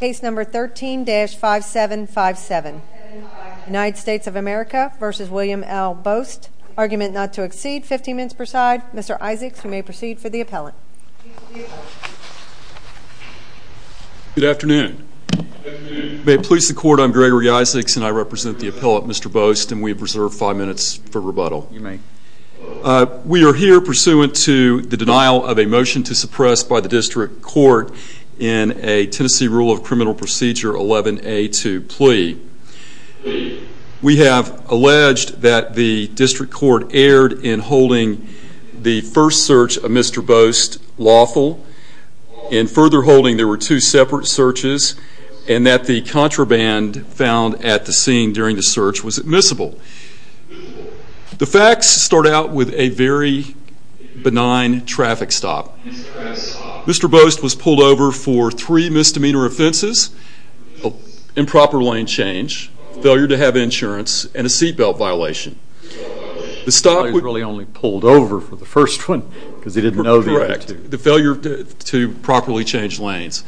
Case number 13-5757, United States of America v. William L. Bost. Argument not to exceed 15 minutes per side. Mr. Isaacs, you may proceed for the appellate. Good afternoon. May it please the court, I'm Gregory Isaacs and I represent the appellate, Mr. Bost, and we have reserved 5 minutes for rebuttal. We are here pursuant to the denial of a motion to suppress by the district court in a Tennessee Rule of Criminal Procedure 11-A-2 plea. We have alleged that the district court erred in holding the first search of Mr. Bost lawful, in further holding there were two separate searches, and that the contraband found at the scene during the search was admissible. The facts start out with a very benign traffic stop. Mr. Bost was pulled over for three misdemeanor offenses, improper lane change, failure to have insurance, and a seat belt violation. The stop was really only pulled over for the first one because he didn't know the other two. Correct. The failure to properly change lanes.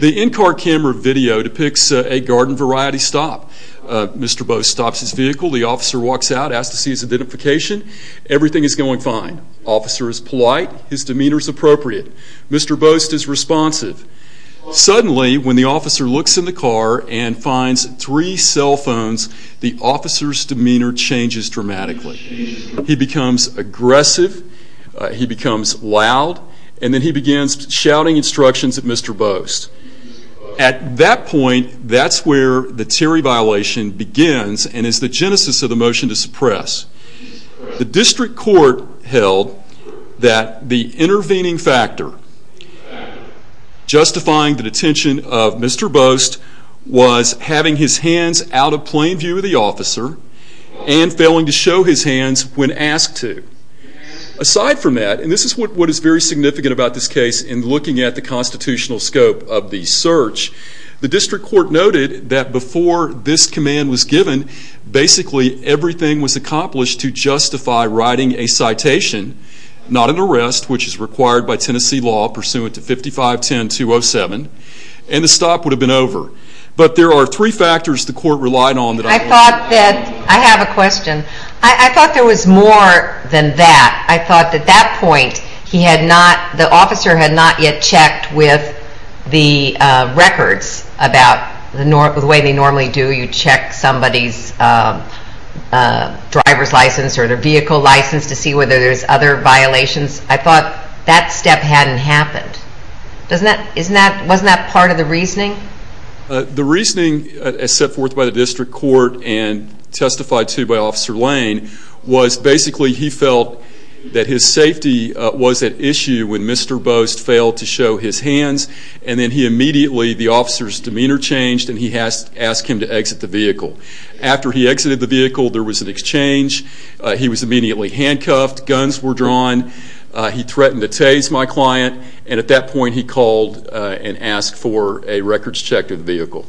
The in-car camera video depicts a garden variety stop. Mr. Bost stops his vehicle, the officer walks out, asks to see his identification, everything is going fine. Officer is polite, his demeanor is appropriate. Mr. Bost is responsive. Suddenly, when the officer looks in the car and finds three cell phones, the officer's demeanor changes dramatically. He becomes aggressive, he becomes loud, and then he begins shouting instructions at Mr. Bost. At that point, that's where the theory violation begins and is the genesis of the motion to suppress. The district court held that the intervening factor justifying the detention of Mr. Bost was having his hands out of plain view of the officer and failing to show his hands when asked to. Aside from that, and this is what is very significant about this case in looking at the constitutional scope of the search, the district court noted that before this command was given, basically everything was accomplished to justify writing a citation, not an arrest, which is required by Tennessee law pursuant to 5510207, and the stop would have been over. But there are three factors the court relied on. I have a question. I thought there was more than that. I thought at that point the officer had not yet checked with the records about the way they normally do. You check somebody's driver's license or their vehicle license to see whether there's other violations. I thought that step hadn't happened. Wasn't that part of the reasoning? The reasoning set forth by the district court and testified to by Officer Lane was basically he felt that his safety was at issue when Mr. Bost failed to show his hands, and then he immediately, the officer's demeanor changed, and he asked him to exit the vehicle. After he exited the vehicle, there was an exchange. He was immediately handcuffed. Guns were drawn. He threatened to tase my client. And at that point he called and asked for a records check of the vehicle.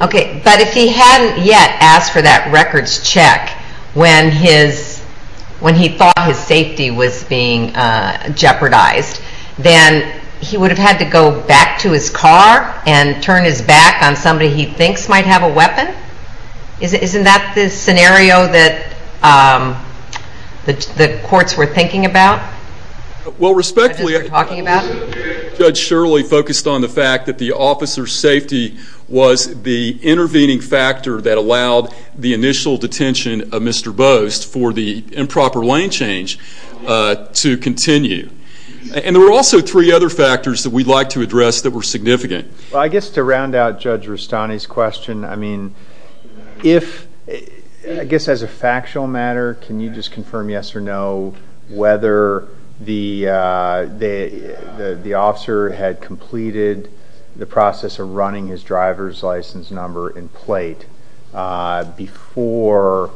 Okay, but if he hadn't yet asked for that records check when he thought his safety was being jeopardized, then he would have had to go back to his car and turn his back on somebody he thinks might have a weapon? Isn't that the scenario that the courts were thinking about? Well, respectfully, Judge Shirley focused on the fact that the officer's safety was the intervening factor that allowed the initial detention of Mr. Bost for the improper lane change to continue. And there were also three other factors that we'd like to address that were significant. I guess to round out Judge Rustani's question, I mean, if, I guess as a factual matter, can you just confirm yes or no whether the officer had completed the process of running his driver's license number in plate before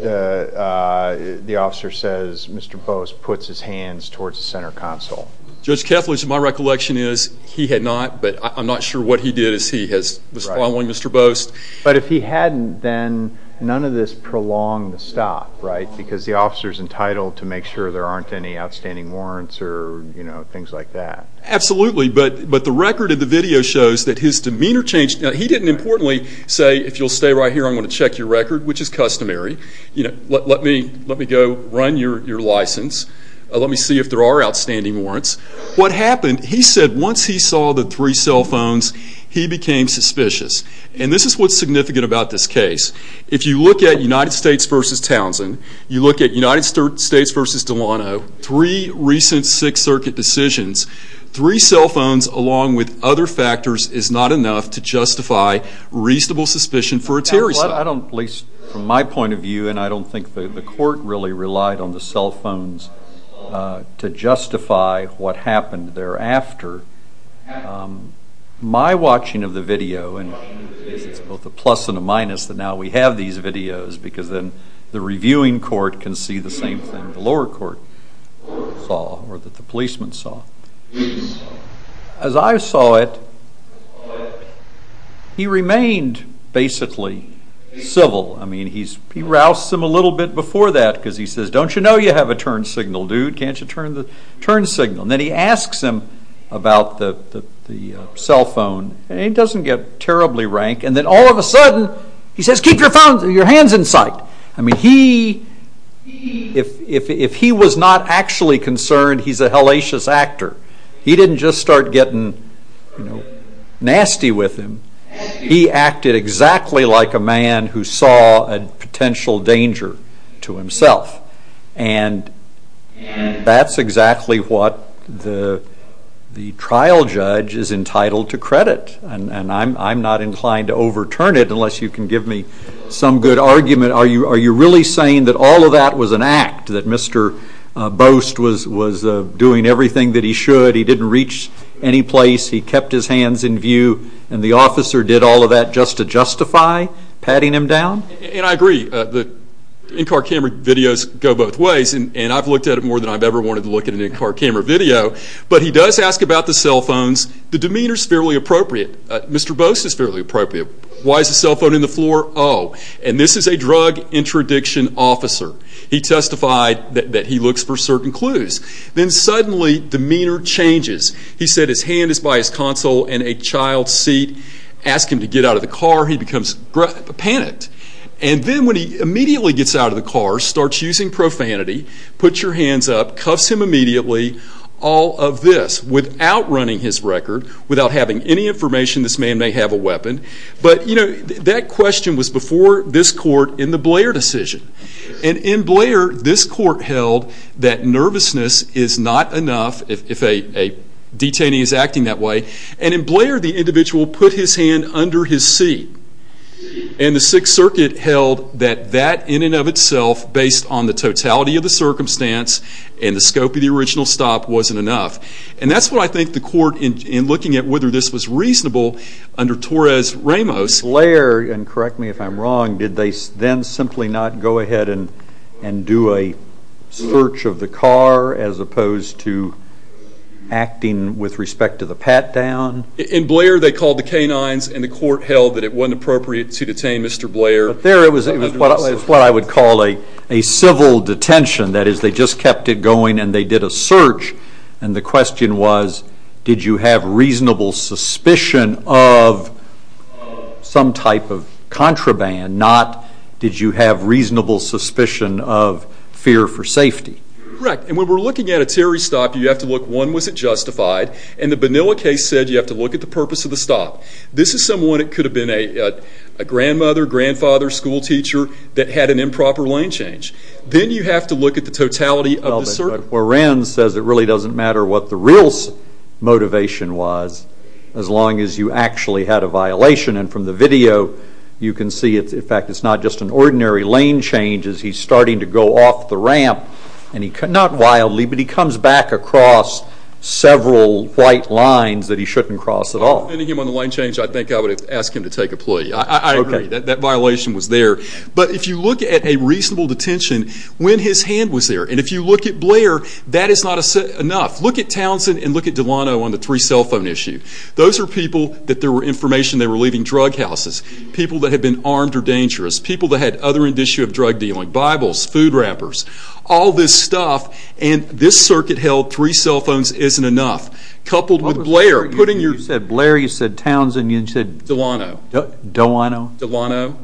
the officer says Mr. Bost puts his hands towards the center console? Judge Keffler, to my recollection, is he had not, but I'm not sure what he did as he was following Mr. Bost. But if he hadn't, then none of this prolonged the stop, right? Because the officer's entitled to make sure there aren't any outstanding warrants or things like that. Absolutely, but the record of the video shows that his demeanor changed. He didn't importantly say, if you'll stay right here, I'm going to check your record, which is customary. Let me go run your license. Let me see if there are outstanding warrants. What happened, he said once he saw the three cell phones, he became suspicious. And this is what's significant about this case. If you look at United States v. Townsend, you look at United States v. Delano, three recent Sixth Circuit decisions, three cell phones along with other factors is not enough to justify reasonable suspicion for a Terry cell. At least from my point of view, and I don't think the court really relied on the cell phones to justify what happened thereafter, my watching of the video, and it's both a plus and a minus that now we have these videos, because then the reviewing court can see the same thing the lower court saw or that the policemen saw. As I saw it, he remained basically civil. I mean, he rousts him a little bit before that because he says, don't you know you have a turn signal, dude? Can't you turn the turn signal? And then he asks him about the cell phone, and he doesn't get terribly rank. And then all of a sudden, he says, keep your hands in sight. I mean, if he was not actually concerned, he's a hellacious actor. He didn't just start getting nasty with him. He acted exactly like a man who saw a potential danger to himself. And that's exactly what the trial judge is entitled to credit, and I'm not inclined to overturn it unless you can give me some good argument. Are you really saying that all of that was an act, that Mr. Boast was doing everything that he should? He didn't reach any place. He kept his hands in view, and the officer did all of that just to justify patting him down? And I agree. The in-car camera videos go both ways, and I've looked at it more than I've ever wanted to look at an in-car camera video. But he does ask about the cell phones. The demeanor's fairly appropriate. Mr. Boast is fairly appropriate. Why is the cell phone in the floor? Oh, and this is a drug interdiction officer. He testified that he looks for certain clues. Then suddenly, demeanor changes. He said his hand is by his console in a child's seat. Ask him to get out of the car. He becomes panicked. And then when he immediately gets out of the car, starts using profanity, puts your hands up, cuffs him immediately, all of this without running his record, without having any information. This man may have a weapon. But, you know, that question was before this court in the Blair decision. And in Blair, this court held that nervousness is not enough if a detainee is acting that way. And in Blair, the individual put his hand under his seat. And the Sixth Circuit held that that in and of itself, based on the totality of the circumstance and the scope of the original stop, wasn't enough. And that's what I think the court, in looking at whether this was reasonable under Torres-Ramos. In Blair, and correct me if I'm wrong, did they then simply not go ahead and do a search of the car as opposed to acting with respect to the pat-down? In Blair, they called the canines, and the court held that it wasn't appropriate to detain Mr. Blair. But there it was what I would call a civil detention. That is, they just kept it going, and they did a search. And the question was, did you have reasonable suspicion of some type of contraband, not did you have reasonable suspicion of fear for safety? Correct. And when we're looking at a Terry stop, you have to look, one, was it justified? And the Benilla case said you have to look at the purpose of the stop. This is someone that could have been a grandmother, grandfather, school teacher that had an improper lane change. Then you have to look at the totality of the circumstance. Well, what Rand says, it really doesn't matter what the real motivation was, as long as you actually had a violation. And from the video, you can see, in fact, it's not just an ordinary lane change. He's starting to go off the ramp, not wildly, but he comes back across several white lines that he shouldn't cross at all. Depending on the lane change, I think I would ask him to take a plea. I agree that that violation was there. But if you look at a reasonable detention, when his hand was there, and if you look at Blair, that is not enough. Look at Townsend and look at Delano on the three cell phone issue. Those are people that there were information they were leaving drug houses, people that had been armed or dangerous, people that had other indicia of drug dealing, Bibles, food wrappers, all this stuff, and this circuit held three cell phones isn't enough. Coupled with Blair, putting your... You said Blair, you said Townsend, you said... Delano. Delano. Delano.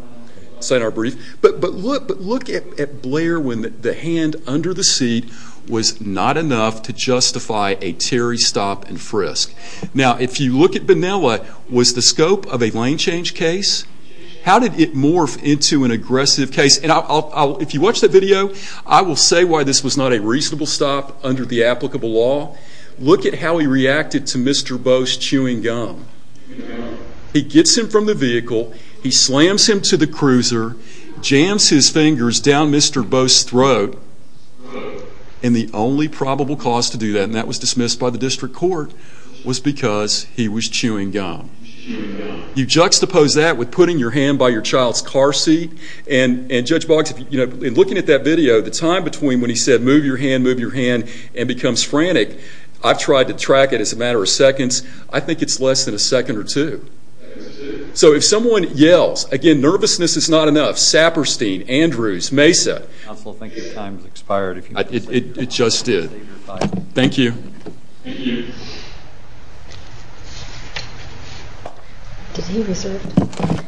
Signed our brief. But look at Blair when the hand under the seat was not enough to justify a Terry stop and frisk. Now, if you look at Benella, was the scope of a lane change case? How did it morph into an aggressive case? And if you watch that video, I will say why this was not a reasonable stop under the applicable law. Look at how he reacted to Mr. Bose chewing gum. He gets him from the vehicle, he slams him to the cruiser, jams his fingers down Mr. Bose's throat, and the only probable cause to do that, and that was dismissed by the district court, was because he was chewing gum. You juxtapose that with putting your hand by your child's car seat, and, Judge Boggs, in looking at that video, the time between when he said, move your hand, move your hand, and becomes frantic, I've tried to track it as a matter of seconds. I think it's less than a second or two. So if someone yells, again, nervousness is not enough, Saperstein, Andrews, Mesa... Counsel, I think your time has expired. It just did. Thank you. Thank you. Did he reserve it?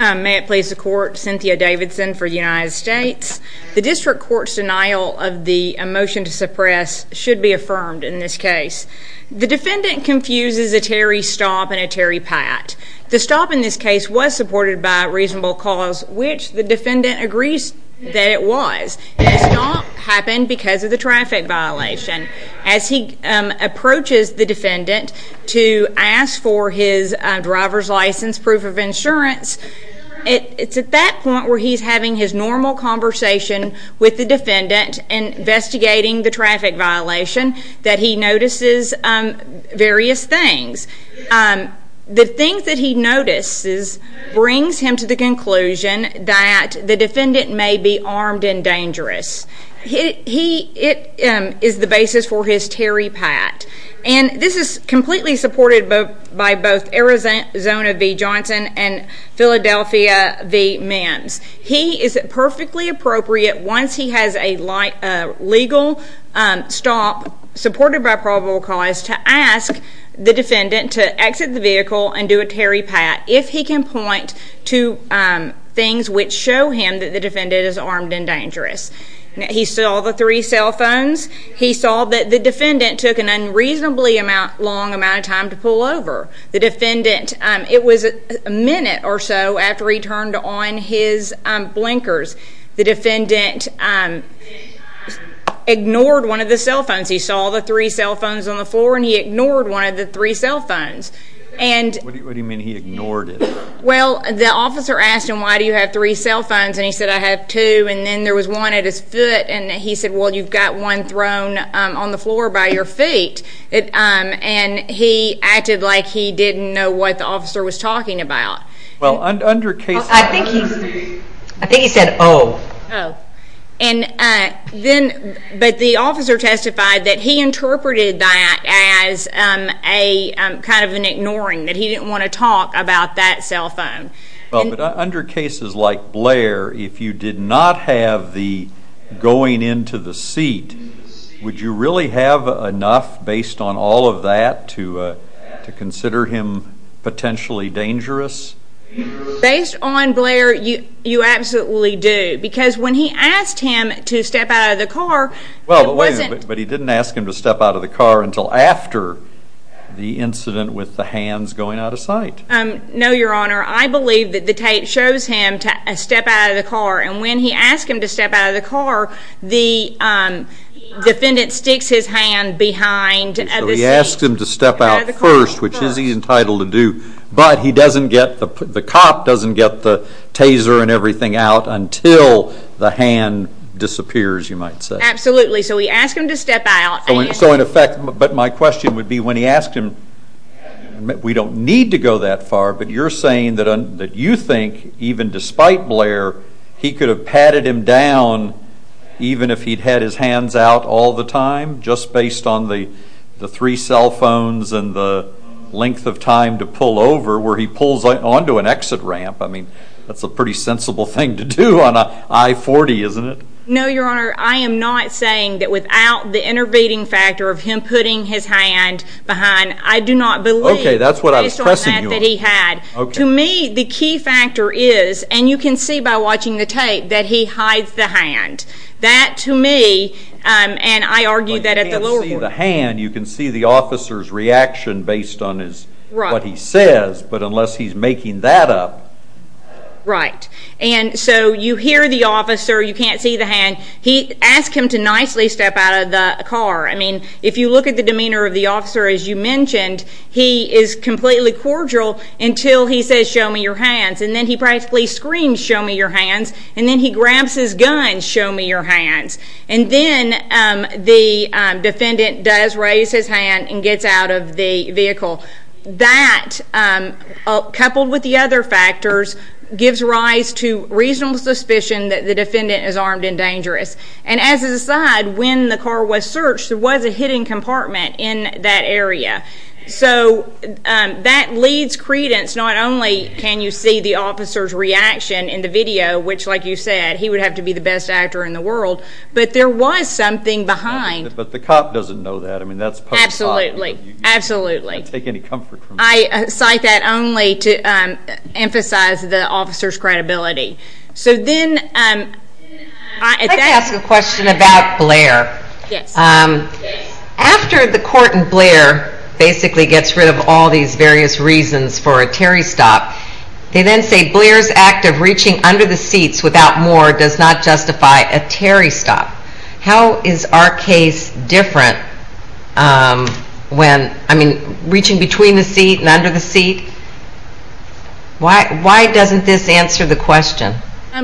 May it please the court, Cynthia Davidson for the United States. The district court's denial of the motion to suppress should be affirmed in this case. The defendant confuses a Terry stop and a Terry pat. The stop in this case was supported by a reasonable cause, which the defendant agrees that it was. The stop happened because of the traffic violation. As he approaches the defendant to ask for his driver's license, proof of insurance, it's at that point where he's having his normal conversation with the defendant investigating the traffic violation that he notices various things. The things that he notices brings him to the conclusion that the defendant may be armed and dangerous. It is the basis for his Terry pat, and this is completely supported by both Arizona v. Johnson and Philadelphia v. Mims. He is perfectly appropriate once he has a legal stop supported by probable cause to ask the defendant to exit the vehicle and do a Terry pat if he can point to things which show him that the defendant is armed and dangerous. He saw the three cell phones. He saw that the defendant took an unreasonably long amount of time to pull over. It was a minute or so after he turned on his blinkers. The defendant ignored one of the cell phones. He saw the three cell phones on the floor, and he ignored one of the three cell phones. What do you mean he ignored it? Well, the officer asked him, Why do you have three cell phones? And he said, I have two. And then there was one at his foot, and he said, Well, you've got one thrown on the floor by your feet. And he acted like he didn't know what the officer was talking about. Well, under case law. I think he said, Oh. Oh. But the officer testified that he interpreted that as kind of an ignoring, that he didn't want to talk about that cell phone. Well, but under cases like Blair, if you did not have the going into the seat, would you really have enough based on all of that to consider him potentially dangerous? Based on Blair, you absolutely do, because when he asked him to step out of the car, it wasn't. Well, but he didn't ask him to step out of the car until after the incident with the hands going out of sight. No, Your Honor. I believe that the tape shows him step out of the car, and when he asked him to step out of the car, the defendant sticks his hand behind the seat. So he asked him to step out first, which he is entitled to do, but the cop doesn't get the taser and everything out until the hand disappears, you might say. Absolutely. So he asked him to step out. So in effect, but my question would be when he asked him, we don't need to go that far, but you're saying that you think even despite Blair, he could have patted him down even if he'd had his hands out all the time just based on the three cell phones and the length of time to pull over where he pulls onto an exit ramp. I mean, that's a pretty sensible thing to do on an I-40, isn't it? No, Your Honor. I am not saying that without the intervening factor of him putting his hand behind, I do not believe just on that that he had. Okay, that's what I was pressing you on. To me, the key factor is, and you can see by watching the tape, that he hides the hand. That to me, and I argue that at the lower court. But you can't see the hand. You can see the officer's reaction based on what he says, but unless he's making that up. And so you hear the officer. You can't see the hand. He asked him to nicely step out of the car. I mean, if you look at the demeanor of the officer, as you mentioned, he is completely cordial until he says, show me your hands. And then he practically screams, show me your hands. And then he grabs his gun, show me your hands. And then the defendant does raise his hand and gets out of the vehicle. That, coupled with the other factors, gives rise to reasonable suspicion that the defendant is armed and dangerous. And as an aside, when the car was searched, there was a hidden compartment in that area. So that leads credence. Not only can you see the officer's reaction in the video, which like you said, he would have to be the best actor in the world, but there was something behind. But the cop doesn't know that. I mean, that's post-cop. Absolutely. I don't take any comfort from that. I cite that only to emphasize the officer's credibility. I'd like to ask a question about Blair. Yes. After the court in Blair basically gets rid of all these various reasons for a Terry stop, they then say Blair's act of reaching under the seats without more does not justify a Terry stop. How is our case different when, I mean, reaching between the seat and under the seat? Why doesn't this answer the question?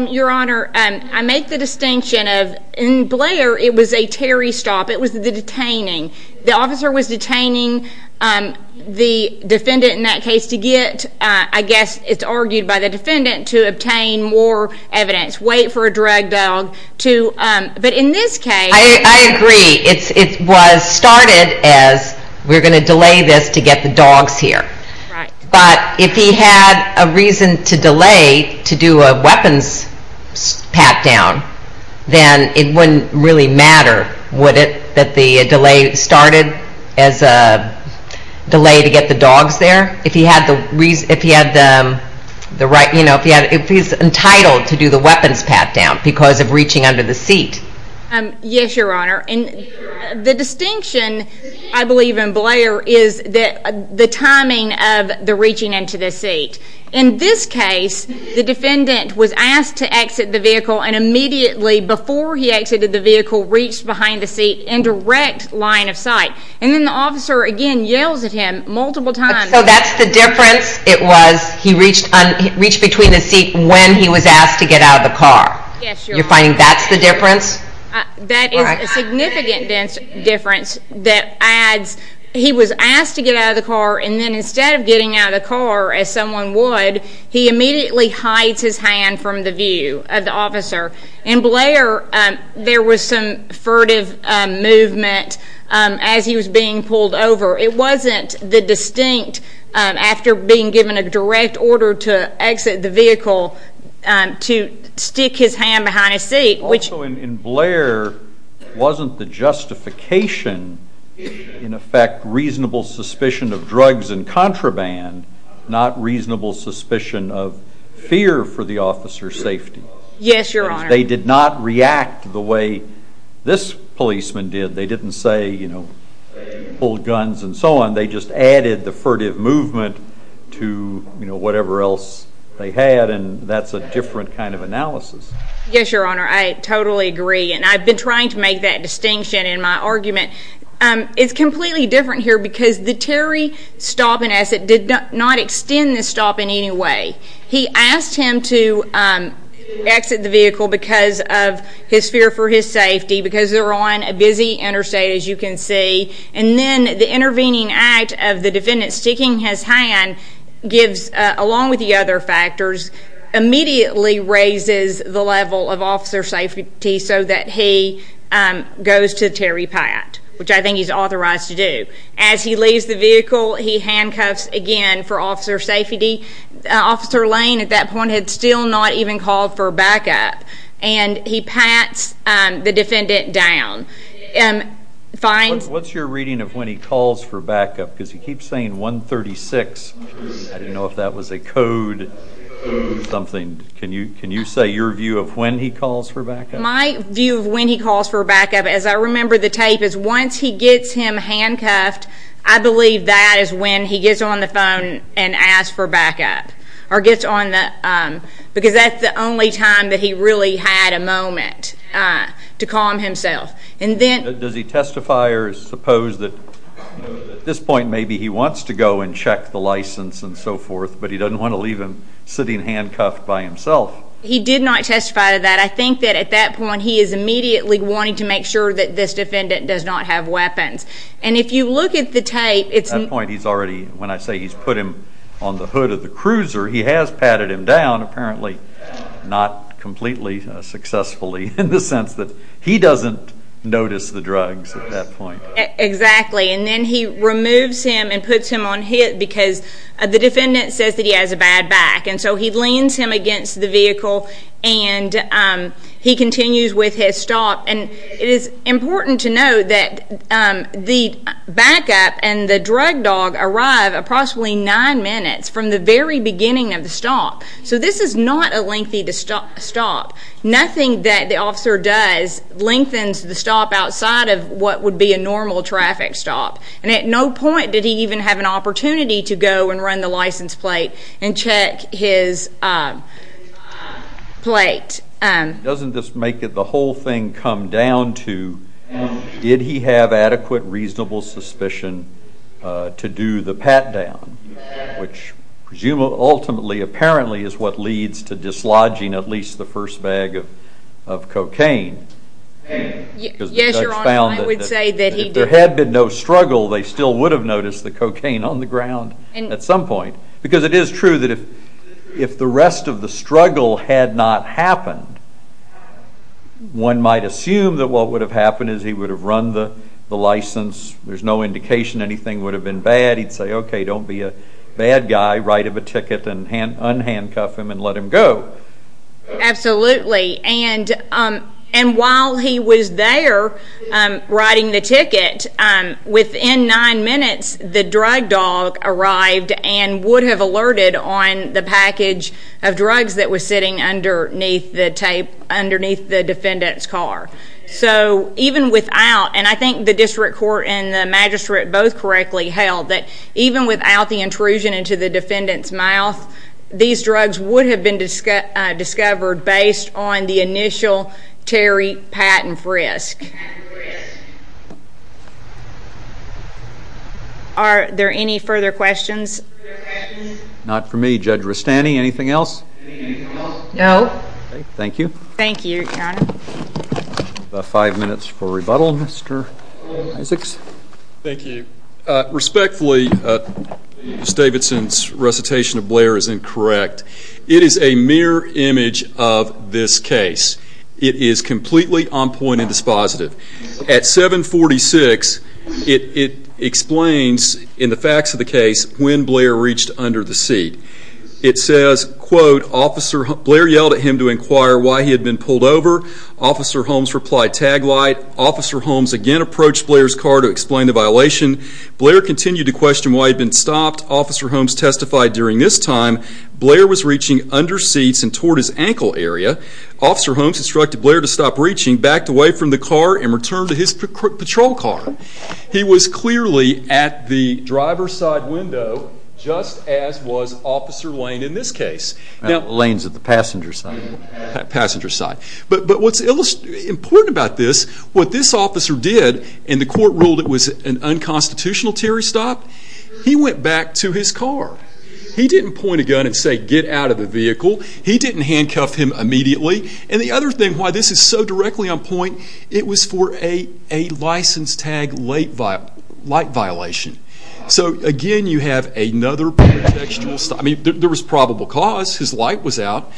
Your Honor, I make the distinction of in Blair it was a Terry stop. It was the detaining. The officer was detaining the defendant in that case to get, I guess it's argued by the defendant, to obtain more evidence, wait for a drag dog to, but in this case. I agree. It was started as we're going to delay this to get the dogs here. Right. But if he had a reason to delay to do a weapons pat down, then it wouldn't really matter, would it, that the delay started as a delay to get the dogs there? If he had the right, you know, if he's entitled to do the weapons pat down because of reaching under the seat. Yes, Your Honor. And the distinction, I believe, in Blair is the timing of the reaching into the seat. In this case, the defendant was asked to exit the vehicle, and immediately before he exited the vehicle reached behind the seat in direct line of sight. And then the officer, again, yells at him multiple times. So that's the difference? It was he reached between the seat when he was asked to get out of the car. Yes, Your Honor. You're finding that's the difference? That is a significant difference that adds he was asked to get out of the car, and then instead of getting out of the car, as someone would, he immediately hides his hand from the view of the officer. In Blair, there was some furtive movement as he was being pulled over. It wasn't the distinct, after being given a direct order to exit the vehicle, to stick his hand behind his seat. Also, in Blair, wasn't the justification, in effect, reasonable suspicion of drugs and contraband, not reasonable suspicion of fear for the officer's safety? Yes, Your Honor. They did not react the way this policeman did. They didn't say, you know, pull guns and so on. They just added the furtive movement to whatever else they had, and that's a different kind of analysis. Yes, Your Honor. I totally agree, and I've been trying to make that distinction in my argument. It's completely different here because the Terry stop and exit did not extend the stop in any way. He asked him to exit the vehicle because of his fear for his safety, because they're on a busy interstate, as you can see, and then the intervening act of the defendant sticking his hand gives, along with the other factors, immediately raises the level of officer safety so that he goes to Terry Pat, which I think he's authorized to do. As he leaves the vehicle, he handcuffs again for officer safety. Officer Lane, at that point, had still not even called for backup, and he pats the defendant down. What's your reading of when he calls for backup? Because he keeps saying 136. I didn't know if that was a code or something. My view of when he calls for backup, as I remember the tape, is once he gets him handcuffed, I believe that is when he gets on the phone and asks for backup, because that's the only time that he really had a moment to calm himself. Does he testify or suppose that at this point maybe he wants to go and check the license and so forth, but he doesn't want to leave him sitting handcuffed by himself? He did not testify to that. I think that at that point he is immediately wanting to make sure that this defendant does not have weapons. And if you look at the tape, it's... At that point he's already, when I say he's put him on the hood of the cruiser, he has patted him down, apparently not completely successfully, in the sense that he doesn't notice the drugs at that point. Exactly. And then he removes him and puts him on hit because the defendant says that he has a bad back. And so he leans him against the vehicle and he continues with his stop. And it is important to note that the backup and the drug dog arrive approximately nine minutes from the very beginning of the stop. So this is not a lengthy stop. Nothing that the officer does lengthens the stop outside of what would be a normal traffic stop. And at no point did he even have an opportunity to go and run the license plate and check his plate. Doesn't this make the whole thing come down to did he have adequate, reasonable suspicion to do the pat down, which ultimately, apparently, is what leads to dislodging at least the first bag of cocaine? Yes, Your Honor, I would say that he did. Had there been no struggle, they still would have noticed the cocaine on the ground at some point. Because it is true that if the rest of the struggle had not happened, one might assume that what would have happened is he would have run the license. There's no indication anything would have been bad. He'd say, okay, don't be a bad guy. Write him a ticket and unhandcuff him and let him go. Absolutely. And while he was there writing the ticket, within nine minutes, the drug dog arrived and would have alerted on the package of drugs that was sitting underneath the defendant's car. So even without, and I think the district court and the magistrate both correctly held, that even without the intrusion into the defendant's mouth, these drugs would have been discovered based on the initial tarry patent frisk. Are there any further questions? Not for me. Judge Rustani, anything else? No. Thank you. Thank you, Your Honor. Five minutes for rebuttal. Mr. Isaacs? Thank you. Respectfully, Ms. Davidson's recitation of Blair is incorrect. It is a mirror image of this case. It is completely on point and dispositive. At 746, it explains in the facts of the case when Blair reached under the seat. It says, quote, Blair yelled at him to inquire why he had been pulled over. Officer Holmes replied, tag light. Officer Holmes again approached Blair's car to explain the violation. Blair continued to question why he had been stopped. Officer Holmes testified during this time, Blair was reaching under seats and toward his ankle area. Officer Holmes instructed Blair to stop reaching, backed away from the car, and returned to his patrol car. He was clearly at the driver's side window, just as was Officer Lane in this case. Lane is at the passenger side. Passenger side. But what's important about this, what this officer did, and the court ruled it was an unconstitutional Terry stop, he went back to his car. He didn't point a gun and say, get out of the vehicle. He didn't handcuff him immediately. And the other thing why this is so directly on point, it was for a license tag light violation. So, again, you have another protection. I mean, there was probable cause. His light was out.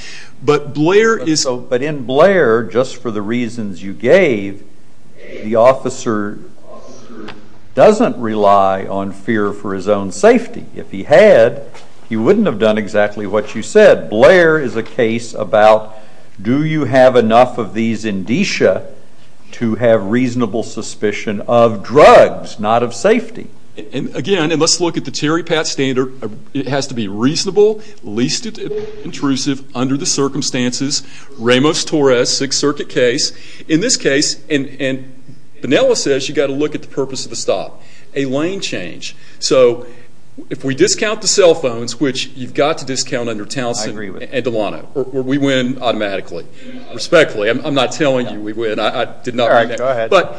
But in Blair, just for the reasons you gave, the officer doesn't rely on fear for his own safety. If he had, he wouldn't have done exactly what you said. Blair is a case about, do you have enough of these indicia to have reasonable suspicion of drugs, not of safety? And, again, let's look at the Terry Patz standard. It has to be reasonable, least intrusive, under the circumstances. Ramos-Torres, Sixth Circuit case. In this case, and Penelas says you've got to look at the purpose of the stop, a lane change. So if we discount the cell phones, which you've got to discount under Townsend and Delano, or we win automatically. Respectfully. I'm not telling you we win. But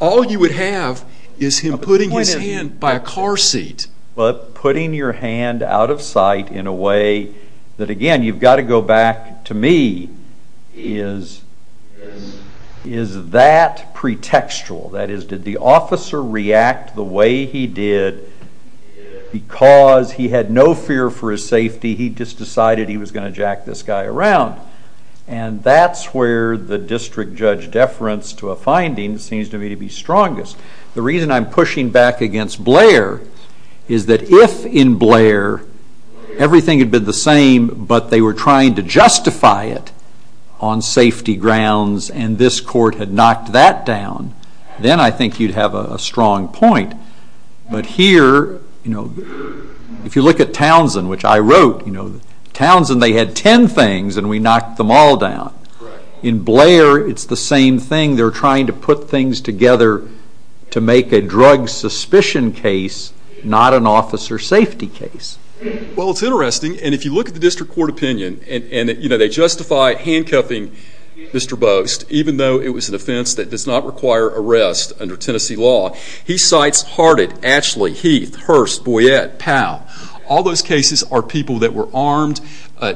all you would have is him putting his hand by a car seat. But putting your hand out of sight in a way that, again, you've got to go back to me, is that pretextual? That is, did the officer react the way he did because he had no fear for his safety? He just decided he was going to jack this guy around. And that's where the district judge deference to a finding seems to me to be strongest. The reason I'm pushing back against Blair is that if, in Blair, everything had been the same, but they were trying to justify it on safety grounds and this court had knocked that down, then I think you'd have a strong point. But here, if you look at Townsend, which I wrote, Townsend, they had ten things and we knocked them all down. In Blair, it's the same thing. They're trying to put things together to make a drug suspicion case, not an officer safety case. Well, it's interesting. And if you look at the district court opinion, and they justify handcuffing Mr. Bost, even though it was an offense that does not require arrest under Tennessee law. He cites Harted, Ashley, Heath, Hurst, Boyette, Powell. All those cases are people that were armed,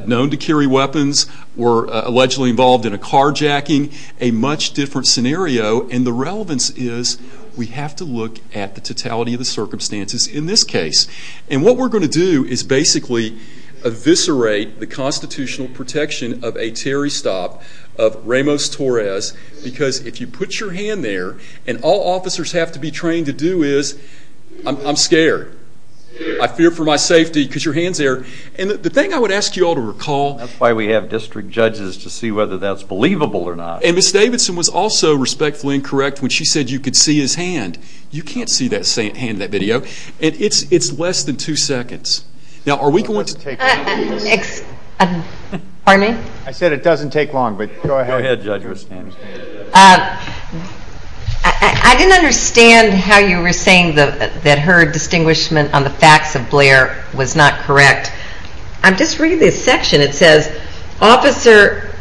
known to carry weapons, were allegedly involved in a carjacking, a much different scenario. And the relevance is we have to look at the totality of the circumstances in this case. And what we're going to do is basically eviscerate the constitutional protection of a Terry stop, of Ramos-Torres, because if you put your hand there, and all officers have to be trained to do is, I'm scared. I fear for my safety because your hand's there. And the thing I would ask you all to recall. That's why we have district judges to see whether that's believable or not. And Ms. Davidson was also respectfully incorrect when she said you could see his hand. You can't see that hand in that video. And it's less than two seconds. Now, are we going to... Pardon me? I said it doesn't take long, but go ahead. I didn't understand how you were saying that her distinguishment on the facts of Blair was not correct. I'm just reading this section. It says, Officer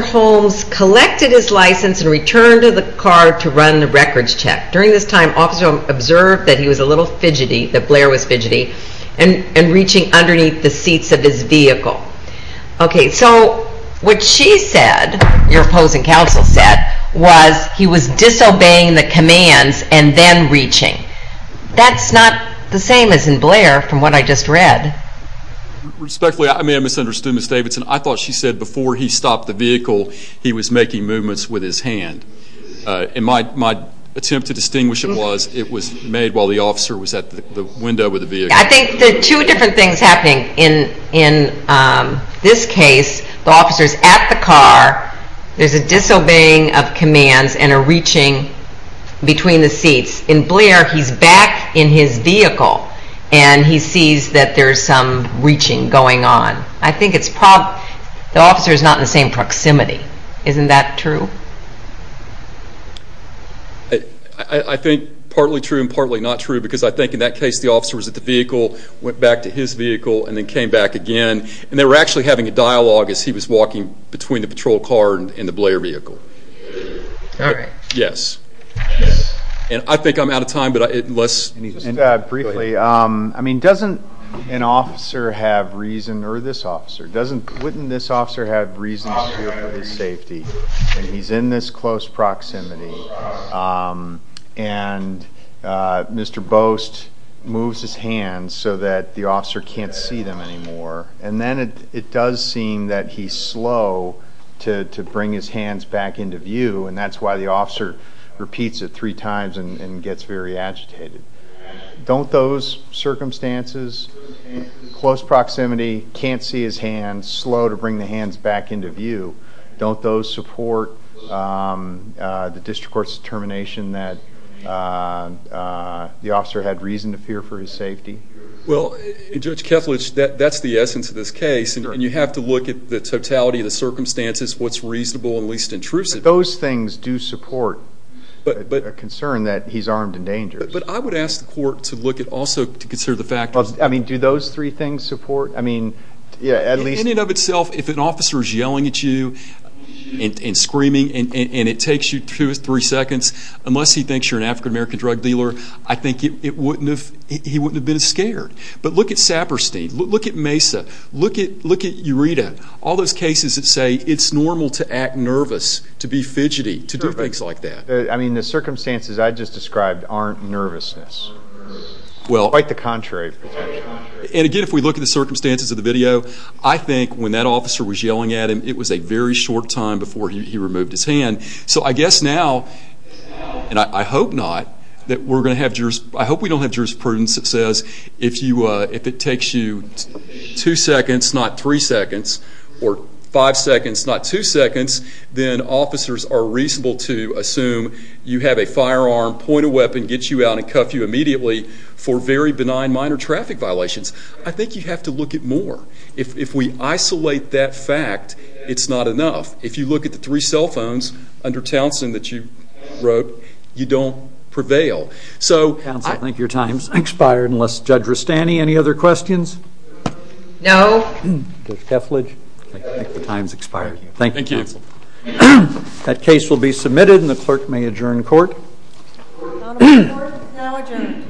Holmes collected his license and returned to the car to run the records check. During this time, Officer Holmes observed that he was a little fidgety, that Blair was fidgety, and reaching underneath the seats of his vehicle. Okay, so what she said, your opposing counsel said, was he was disobeying the commands and then reaching. That's not the same as in Blair from what I just read. Respectfully, I may have misunderstood Ms. Davidson. I thought she said before he stopped the vehicle, he was making movements with his hand. And my attempt to distinguish it was it was made while the officer was at the window of the vehicle. I think there are two different things happening. In this case, the officer is at the car. There's a disobeying of commands and a reaching between the seats. In Blair, he's back in his vehicle, and he sees that there's some reaching going on. I think the officer is not in the same proximity. Isn't that true? I think partly true and partly not true, because I think in that case the officer was at the vehicle, went back to his vehicle, and then came back again. And they were actually having a dialogue as he was walking between the patrol car and the Blair vehicle. All right. Yes. And I think I'm out of time, but let's... Just briefly, I mean, doesn't an officer have reason, or this officer, wouldn't this officer have reason to feel for his safety when he's in this close proximity and Mr. Bost moves his hands so that the officer can't see them anymore? And then it does seem that he's slow to bring his hands back into view, and that's why the officer repeats it three times and gets very agitated. Don't those circumstances, close proximity, can't see his hands, slow to bring the hands back into view, don't those support the district court's determination that the officer had reason to fear for his safety? Well, Judge Kethledge, that's the essence of this case, and you have to look at the totality of the circumstances, what's reasonable and least intrusive. Those things do support a concern that he's armed and dangerous. But I would ask the court to look at also to consider the fact... I mean, do those three things support? I mean, yeah, at least... In and of itself, if an officer is yelling at you and screaming and it takes you two or three seconds, unless he thinks you're an African-American drug dealer, I think he wouldn't have been scared. But look at Saperstein, look at Mesa, look at Eureta, all those cases that say it's normal to act nervous, to be fidgety, to do things like that. I mean, the circumstances I just described aren't nervousness, quite the contrary. And again, if we look at the circumstances of the video, I think when that officer was yelling at him, it was a very short time before he removed his hand. So I guess now, and I hope not, that we're going to have juris... I hope we don't have jurisprudence that says if it takes you two seconds, not three seconds, or five seconds, not two seconds, then officers are reasonable to assume you have a firearm, point a weapon, get you out and cuff you immediately for very benign minor traffic violations. I think you have to look at more. If we isolate that fact, it's not enough. If you look at the three cell phones under Townsend that you wrote, you don't prevail. So... Counsel, I think your time's expired, unless Judge Rustani, any other questions? No. Judge Kesslidge? I think the time's expired. Thank you, counsel. That case will be submitted, and the clerk may adjourn court. The court is now adjourned.